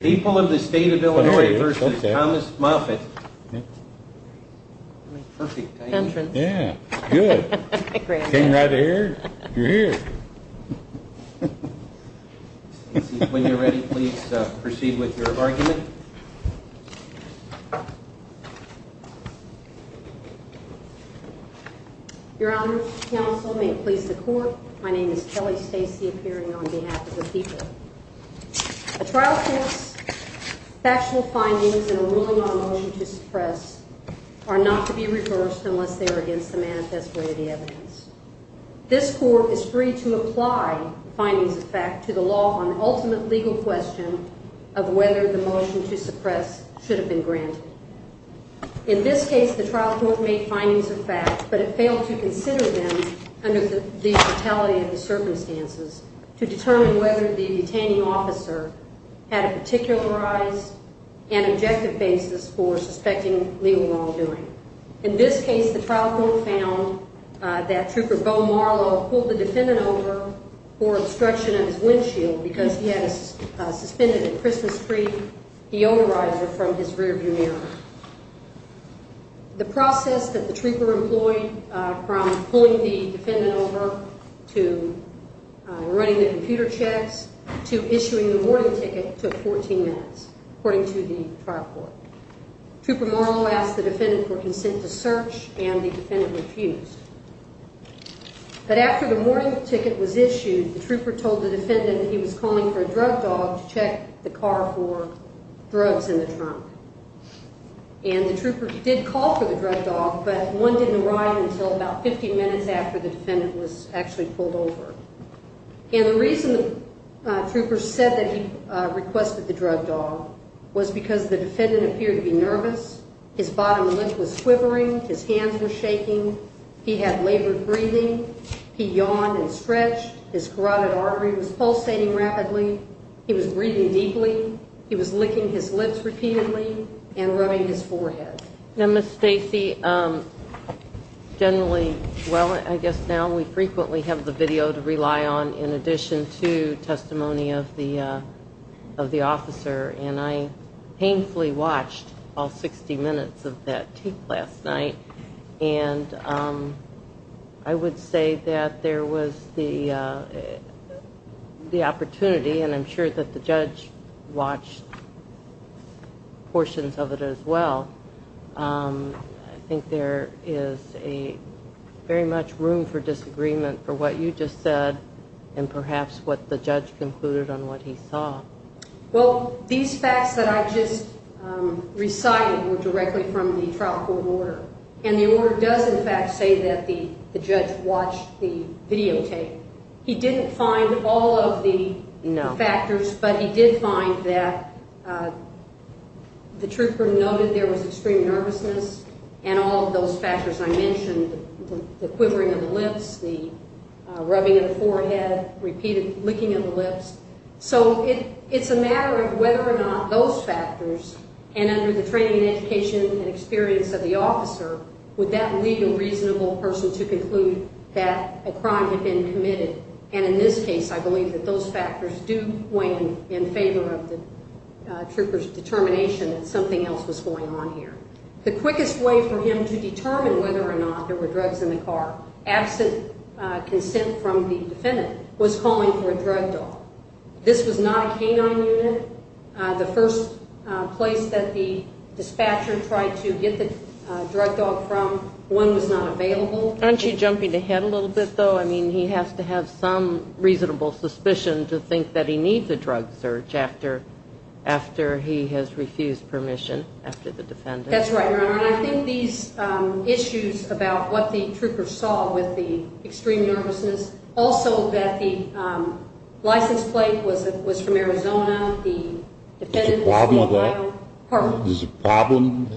People of the State of Illinois v. Thomas Moffitt Your Honor, counsel, may it please the Court, my name is Kelly Stacey, appearing on behalf of the people. A trial court's factual findings in a ruling on a motion to suppress are not to be reversed unless they are against the manifest way of the evidence. This Court is free to apply findings of fact to the law on the ultimate legal question of whether the motion to suppress should have been granted. In this case, the trial court made findings of fact, but it failed to consider them under the brutality of the circumstances to determine whether the detaining officer had a particularized and objective basis for suspecting legal wrongdoing. In this case, the trial court found that Trooper Bo Marlow pulled the defendant over for obstruction of his windshield because he had a suspended and Christmas-free deodorizer from his rearview mirror. The process that the trooper employed from pulling the defendant over to running the computer checks to issuing the warning ticket took 14 minutes, according to the trial court. Trooper Marlow asked the defendant for consent to search, and the defendant refused. But after the warning ticket was issued, the trooper told the defendant that he was calling for a drug dog to check the car for drugs in the trunk. And the trooper did call for the drug dog, but one didn't arrive until about 15 minutes after the defendant was actually pulled over. And the reason the trooper said that he requested the drug dog was because the defendant appeared to be nervous. His bottom lip was quivering. His hands were shaking. He had labored breathing. He yawned and stretched. His carotid artery was pulsating rapidly. He was breathing deeply. He was licking his lips repeatedly and rubbing his forehead. Now, Ms. Stacy, generally, well, I guess now we frequently have the video to rely on in addition to testimony of the officer. And I painfully watched all 60 minutes of that tape last night. And I would say that there was the opportunity, and I'm sure that the judge watched portions of it as well. I think there is very much room for disagreement for what you just said and perhaps what the judge concluded on what he saw. Well, these facts that I just recited were directly from the trial court order, and the order does in fact say that the judge watched the videotape. He didn't find all of the factors, but he did find that the trooper noted there was extreme nervousness and all of those factors I mentioned, the quivering of the lips, the rubbing of the forehead, repeated licking of the lips. So it's a matter of whether or not those factors, and under the training and education and experience of the officer, would that lead a reasonable person to conclude that a crime had been committed. And in this case, I believe that those factors do weigh in in favor of the trooper's determination that something else was going on here. The quickest way for him to determine whether or not there were drugs in the car, absent consent from the defendant, was calling for a drug dog. This was not a canine unit. The first place that the dispatcher tried to get the drug dog from, one was not available. Aren't you jumping ahead a little bit, though? I mean, he has to have some reasonable suspicion to think that he needs a drug search after he has refused permission after the defendant. That's right, Your Honor, and I think these issues about what the trooper saw with the extreme nervousness, also that the license plate was from Arizona, the defendant was from Ohio. There's a problem?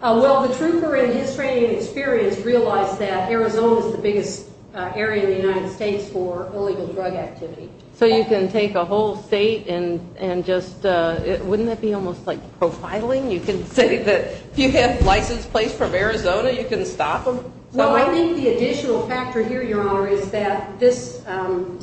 Well, the trooper in his training and experience realized that Arizona is the biggest area in the United States for illegal drug activity. So you can take a whole state and just – wouldn't that be almost like profiling? You can say that if you have a license plate from Arizona, you can stop them? Well, I think the additional factor here, Your Honor, is that this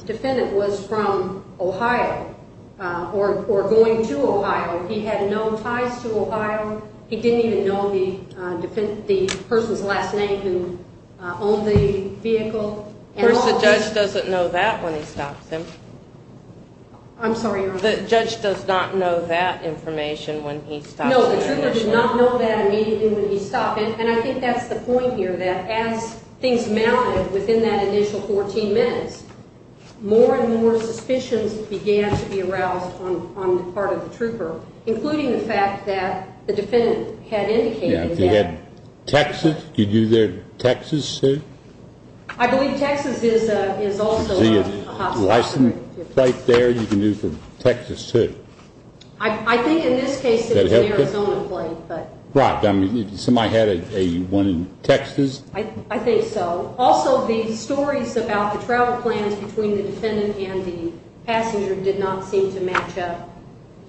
defendant was from Ohio or going to Ohio. He had no ties to Ohio. He didn't even know the person's last name who owned the vehicle. Of course, the judge doesn't know that when he stops them. I'm sorry, Your Honor. The judge does not know that information when he stops. No, the trooper did not know that immediately when he stopped, and I think that's the point here that as things mounted within that initial 14 minutes, more and more suspicions began to be aroused on the part of the trooper, including the fact that the defendant had indicated that – Yeah, if he had Texas, could you do their Texas suit? I believe Texas is also a hospital. Is there a license plate there you can do for Texas suit? I think in this case it was an Arizona plate, but – Right. I mean, somebody had one in Texas? I think so. Also, the stories about the travel plans between the defendant and the passenger did not seem to match up,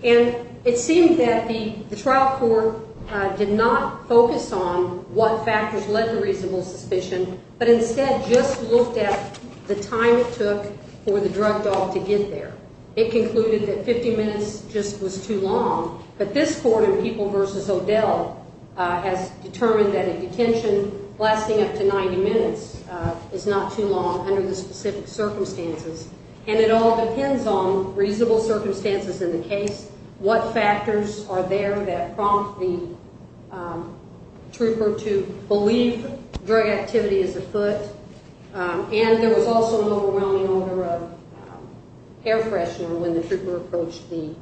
and it seemed that the trial court did not focus on what factors led to reasonable suspicion, but instead just looked at the time it took for the drug dog to get there. It concluded that 50 minutes just was too long, but this court in People v. O'Dell has determined that a detention lasting up to 90 minutes is not too long under the specific circumstances, and it all depends on reasonable circumstances in the case, what factors are there that prompt the trooper to believe drug activity is afoot, and there was also an overwhelming odor of air freshener when the trooper approached the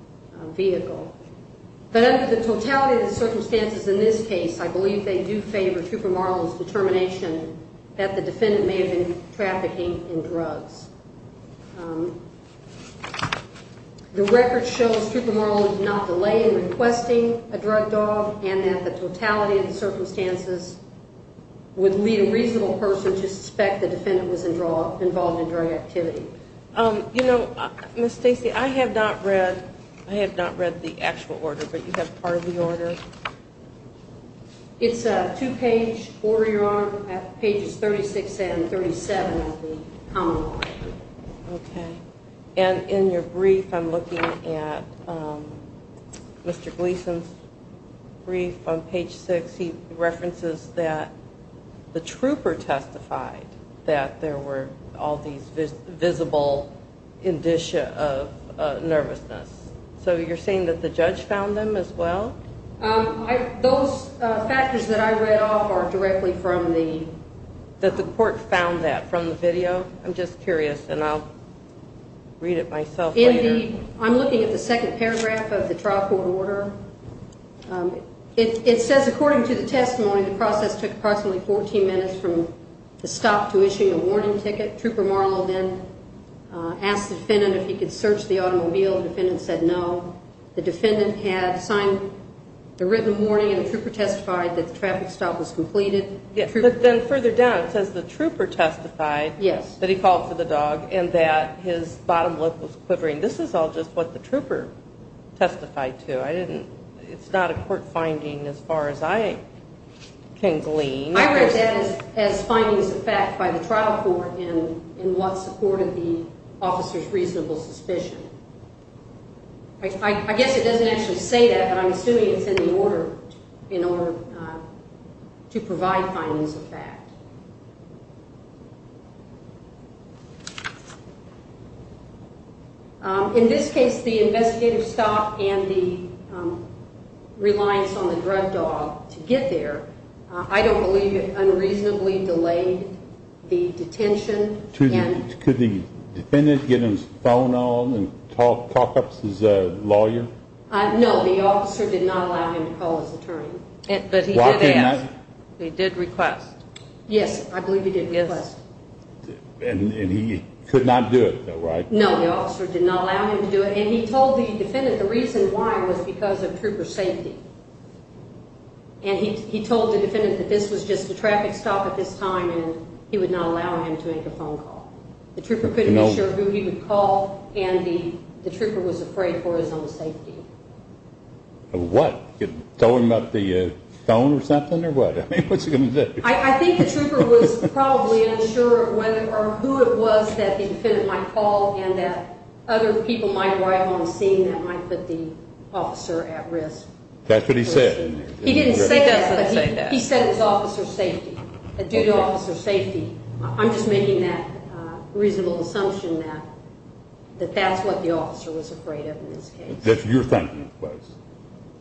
vehicle. But under the totality of the circumstances in this case, I believe they do favor Trooper Marlin's determination that the defendant may have been trafficking in drugs. The record shows Trooper Marlin did not delay in requesting a drug dog and that the totality of the circumstances would lead a reasonable person to suspect the defendant was involved in drug activity. You know, Ms. Stacy, I have not read the actual order, but you have part of the order? It's a two-page order, Your Honor, pages 36 and 37 of the Common Law. Okay. And in your brief, I'm looking at Mr. Gleason's brief on page 6. He references that the trooper testified that there were all these visible indicia of nervousness. So you're saying that the judge found them as well? Those factors that I read off are directly from the… I'm curious, and I'll read it myself later. I'm looking at the second paragraph of the trial court order. It says, according to the testimony, the process took approximately 14 minutes from the stop to issuing a warning ticket. Trooper Marlin then asked the defendant if he could search the automobile. The defendant said no. The defendant had signed a written warning, and the trooper testified that the traffic stop was completed. But then further down, it says the trooper testified that he called for the dog and that his bottom lip was quivering. This is all just what the trooper testified to. It's not a court finding as far as I can glean. I read that as findings of fact by the trial court in what supported the officer's reasonable suspicion. I guess it doesn't actually say that, but I'm assuming it's in the order to provide findings of fact. In this case, the investigative stop and the reliance on the drug dog to get there, I don't believe it unreasonably delayed the detention. Could the defendant get his phone on and talk up his lawyer? No, the officer did not allow him to call his attorney. But he did ask. He did request. Yes, I believe he did request. And he could not do it, right? No, the officer did not allow him to do it. And he told the defendant the reason why was because of trooper safety. And he told the defendant that this was just a traffic stop at this time, and he would not allow him to make a phone call. The trooper couldn't be sure who he would call, and the trooper was afraid for his own safety. What? Tell him about the phone or something or what? I mean, what's he going to do? I think the trooper was probably unsure of whether or who it was that the defendant might call and that other people might arrive on the scene that might put the officer at risk. That's what he said. He didn't say that, but he said it was officer safety, a due to officer safety. I'm just making that reasonable assumption that that's what the officer was afraid of in this case. That's what you're thinking it was.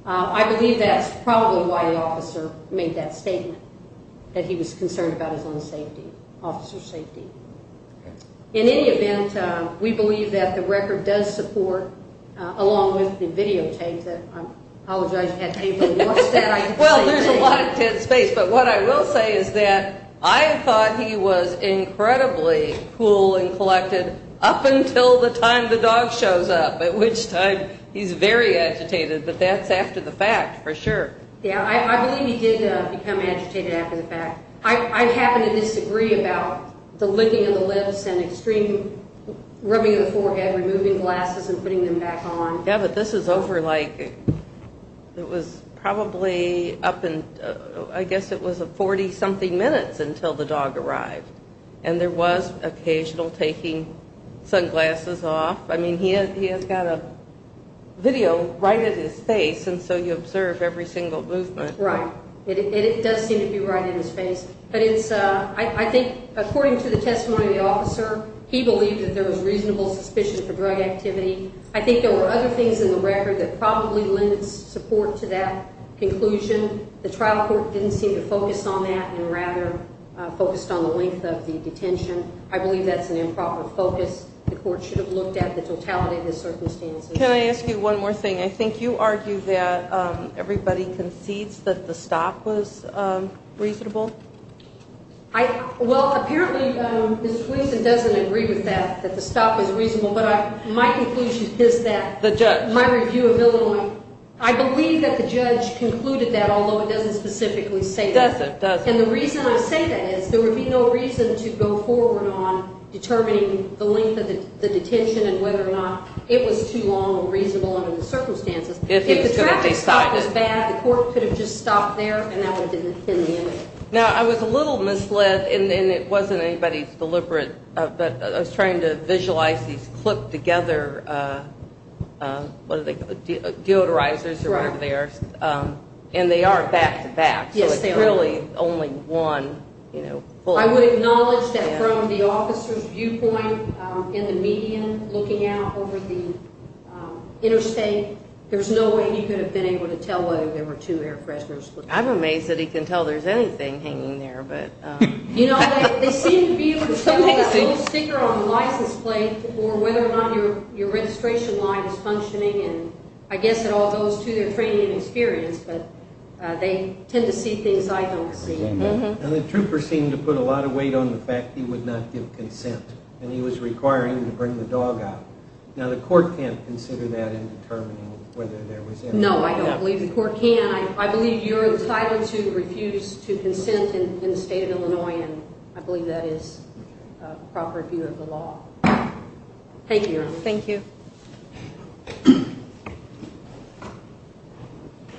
I believe that's probably why the officer made that statement, that he was concerned about his own safety, officer safety. In any event, we believe that the record does support, along with the videotape that I apologize you had to watch that. Well, there's a lot of dead space. But what I will say is that I thought he was incredibly cool and collected up until the time the dog shows up, at which time he's very agitated, but that's after the fact for sure. Yeah, I believe he did become agitated after the fact. I happen to disagree about the licking of the lips and extreme rubbing of the forehead, removing glasses and putting them back on. Yeah, but this is over, like, it was probably up in, I guess it was 40-something minutes until the dog arrived, and there was occasional taking sunglasses off. I mean, he has got a video right at his face, and so you observe every single movement. Right, and it does seem to be right at his face. But I think, according to the testimony of the officer, he believed that there was reasonable suspicion for drug activity. I think there were other things in the record that probably lended support to that conclusion. The trial court didn't seem to focus on that and rather focused on the length of the detention. I believe that's an improper focus. The court should have looked at the totality of the circumstances. Can I ask you one more thing? I think you argue that everybody concedes that the stop was reasonable. Well, apparently Ms. Fleason doesn't agree with that, that the stop was reasonable. But my conclusion is that my review of Illinois, I believe that the judge concluded that, although it doesn't specifically say that. It doesn't, it doesn't. And the reason I say that is there would be no reason to go forward on determining the length of the detention and whether or not it was too long or reasonable under the circumstances. If the traffic stop was bad, the court could have just stopped there and that would have been the end of it. Now, I was a little misled, and it wasn't anybody's deliberate, but I was trying to visualize these clipped together deodorizers or whatever they are. And they are back-to-back, so it's really only one. I would acknowledge that from the officer's viewpoint in the median looking out over the interstate, there's no way he could have been able to tell whether there were two air fresheners. I'm amazed that he can tell there's anything hanging there. You know, they seem to be able to tell with a little sticker on the license plate or whether or not your registration line is functioning. And I guess it all goes to their training and experience, but they tend to see things I don't see. Now, the trooper seemed to put a lot of weight on the fact he would not give consent, and he was requiring to bring the dog out. Now, the court can't consider that in determining whether there was anything. No, I don't believe the court can. I believe you're entitled to refuse to consent in the state of Illinois, and I believe that is a proper view of the law. Thank you, Your Honor. Thank you.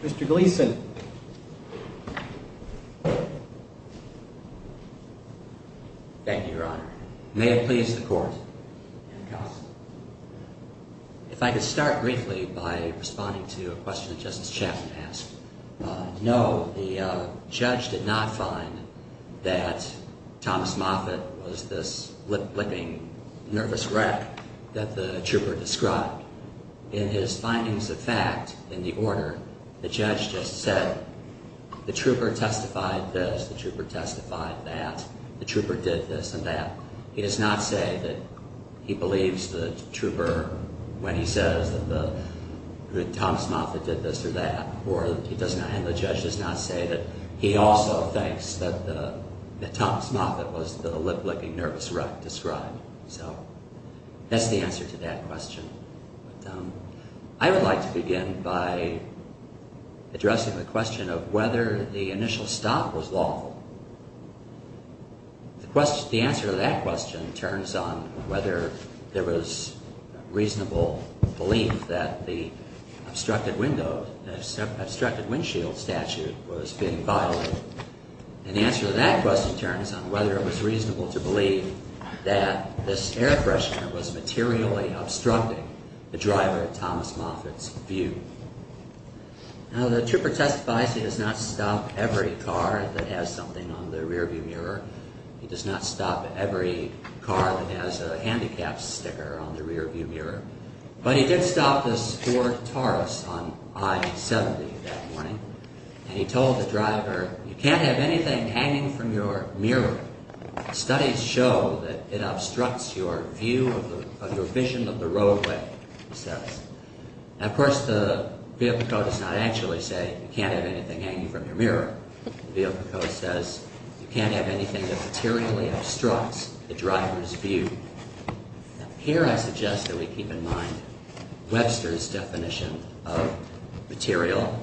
Mr. Gleason. Thank you, Your Honor. May it please the court. If I could start briefly by responding to a question that Justice Chapman asked. No, the judge did not find that Thomas Moffitt was this lip-licking nervous wreck that the trooper described. In his findings of fact in the order, the judge just said the trooper testified that the trooper did this and that. He does not say that he believes the trooper when he says that Thomas Moffitt did this or that, and the judge does not say that he also thinks that Thomas Moffitt was the lip-licking nervous wreck described. So that's the answer to that question. I would like to begin by addressing the question of whether the initial stop was lawful. The answer to that question turns on whether there was reasonable belief that the obstructed window, obstructed windshield statute was being violated, and the answer to that question turns on whether it was reasonable to believe that this air freshener was materially obstructing the driver Thomas Moffitt's view. Now the trooper testifies he does not stop every car that has something on the rearview mirror. He does not stop every car that has a handicapped sticker on the rearview mirror, but he did stop this Ford Taurus on I-70 that morning, and he told the driver, you can't have anything hanging from your mirror. Studies show that it obstructs your view of your vision of the roadway, he says. Now of course the vehicle code does not actually say you can't have anything hanging from your mirror. The vehicle code says you can't have anything that materially obstructs the driver's view. Here I suggest that we keep in mind Webster's definition of material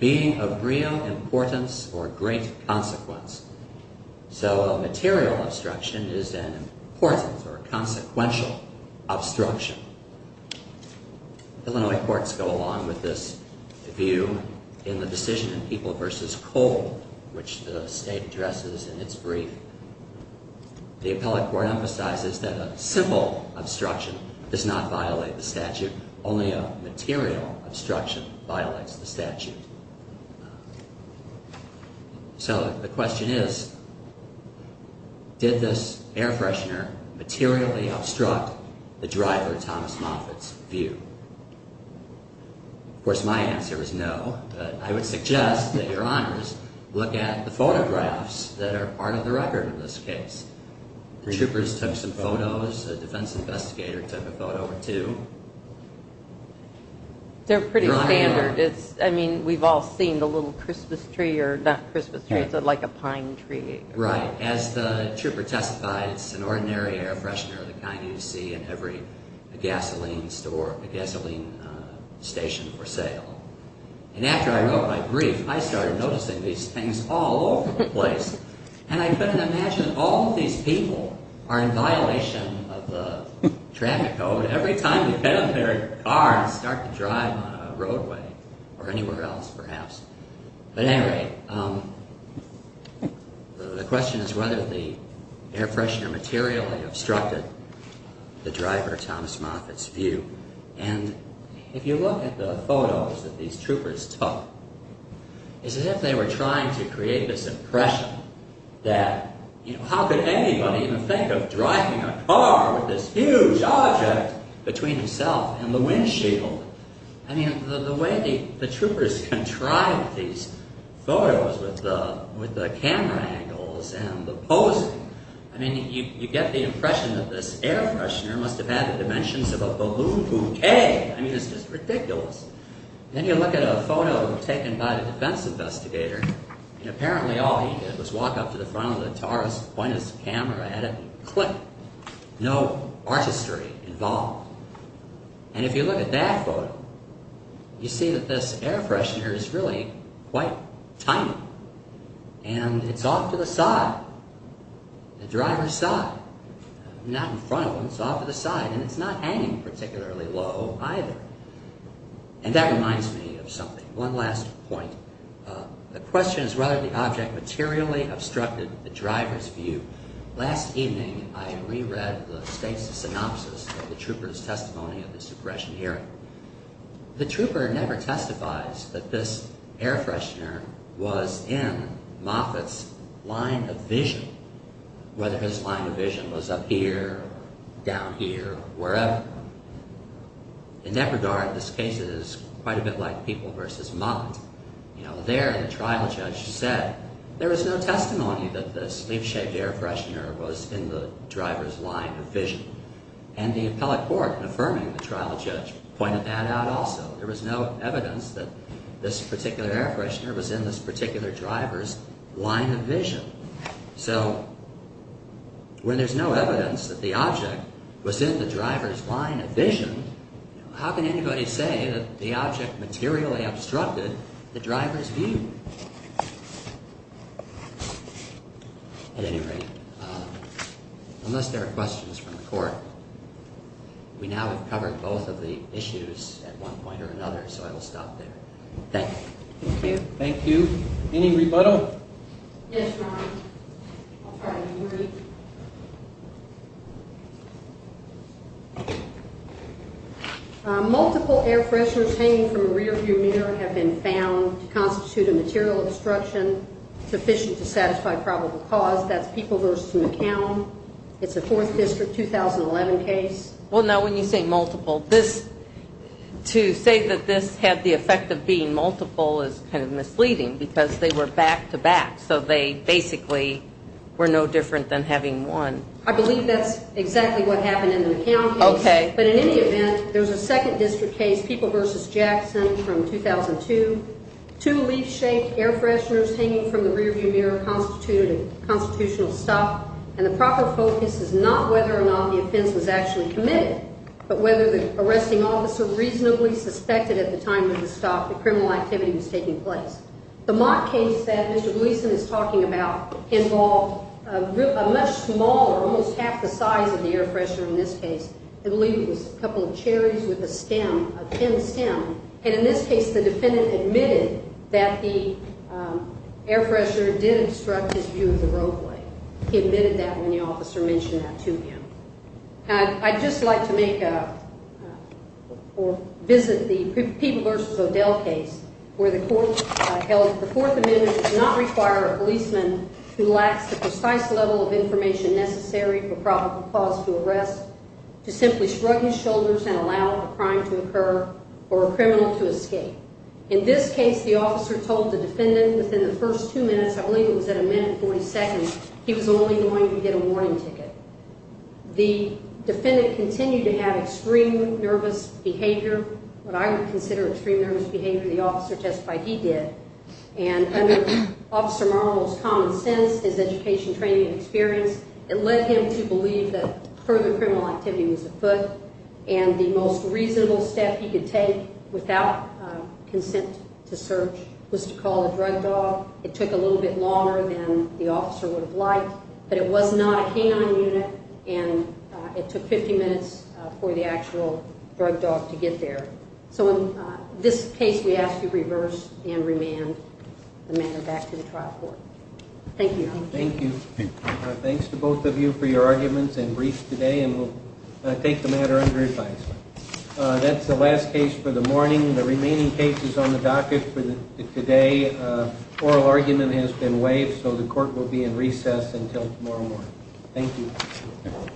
being of real importance or great consequence. So a material obstruction is an important or consequential obstruction. Illinois courts go along with this view in the decision in People v. Cole, which the state addresses in its brief. The appellate court emphasizes that a simple obstruction does not violate the statute. Only a material obstruction violates the statute. So the question is, did this air freshener materially obstruct the driver, Thomas Moffitt's view? Of course my answer is no, but I would suggest that Your Honors look at the photographs that are part of the record in this case. Troopers took some photos, a defense investigator took a photo or two. They're pretty standard. I mean, we've all seen the little Christmas tree, or not Christmas tree, it's like a pine tree. Right. As the trooper testified, it's an ordinary air freshener of the kind you see in every gasoline station for sale. And after I wrote my brief, I started noticing these things all over the place. And I couldn't imagine all these people are in violation of the traffic code. Every time they get out of their car and start to drive on a roadway, or anywhere else perhaps. But anyway, the question is whether the air freshener materially obstructed the driver, Thomas Moffitt's view. And if you look at the photos that these troopers took, it's as if they were trying to create this impression that, you know, how could anybody even think of driving a car with this huge object between himself and the windshield? I mean, the way the troopers contrived these photos with the camera angles and the posing, I mean, you get the impression that this air freshener must have had the dimensions of a balloon bouquet. Then you look at a photo taken by the defense investigator, and apparently all he did was walk up to the front of the Taurus, point his camera at it, and click. No artistry involved. And if you look at that photo, you see that this air freshener is really quite tiny. And it's off to the side. The driver's side. Not in front of him, it's off to the side. And it's not hanging particularly low either. And that reminds me of something. One last point. The question is whether the object materially obstructed the driver's view. Last evening, I reread the synopsis of the trooper's testimony of this aggression hearing. The trooper never testifies that this air freshener was in Moffitt's line of vision, whether his line of vision was up here, down here, wherever. In that regard, this case is quite a bit like People v. Mott. There, the trial judge said there was no testimony that this sleeve-shaped air freshener was in the driver's line of vision. And the appellate court, affirming the trial judge, pointed that out also. There was no evidence that this particular air freshener was in this particular driver's line of vision. So when there's no evidence that the object was in the driver's line of vision, how can anybody say that the object materially obstructed the driver's view? At any rate, unless there are questions from the court, we now have covered both of the issues at one point or another, so I will stop there. Thank you. Thank you. Any rebuttal? Yes, Your Honor. Multiple air fresheners hanging from a rearview mirror have been found to constitute a material obstruction sufficient to satisfy probable cause. That's People v. McCown. It's a 4th District 2011 case. Well, no, when you say multiple, to say that this had the effect of being multiple is kind of misleading because they were back-to-back, so they basically were no different than having one. I believe that's exactly what happened in the McCown case. Okay. But in any event, there's a 2nd District case, People v. Jackson from 2002, two leaf-shaped air fresheners hanging from the rearview mirror constituted constitutional stuff, and the proper focus is not whether or not the offense was actually committed, but whether the arresting officer reasonably suspected at the time of the stop that criminal activity was taking place. The Mott case that Mr. Gleason is talking about involved a much smaller, almost half the size of the air freshener in this case. I believe it was a couple of cherries with a stem, a thin stem, and in this case the defendant admitted that the air freshener did obstruct his view of the roadway. He admitted that when the officer mentioned that to him. I'd just like to make or visit the People v. O'Dell case where the court held that the Fourth Amendment does not require a policeman who lacks the precise level of information necessary for probable cause to arrest to simply shrug his shoulders and allow a crime to occur or a criminal to escape. In this case, the officer told the defendant within the first two minutes, I believe it was at a minute 40 seconds, he was only going to get a warning ticket. The defendant continued to have extreme nervous behavior, what I would consider extreme nervous behavior, the officer testified he did, and under Officer Marvel's common sense, his education, training, and experience, it led him to believe that further criminal activity was afoot, and the most reasonable step he could take without consent to search was to call a drug dog. It took a little bit longer than the officer would have liked, but it was not a canine unit, and it took 50 minutes for the actual drug dog to get there. So in this case, we ask you reverse and remand the matter back to the trial court. Thank you. Thank you. Thanks to both of you for your arguments and briefs today, and we'll take the matter under advice. That's the last case for the morning. The remaining cases on the docket for today, oral argument has been waived, so the court will be in recess until tomorrow morning. Thank you.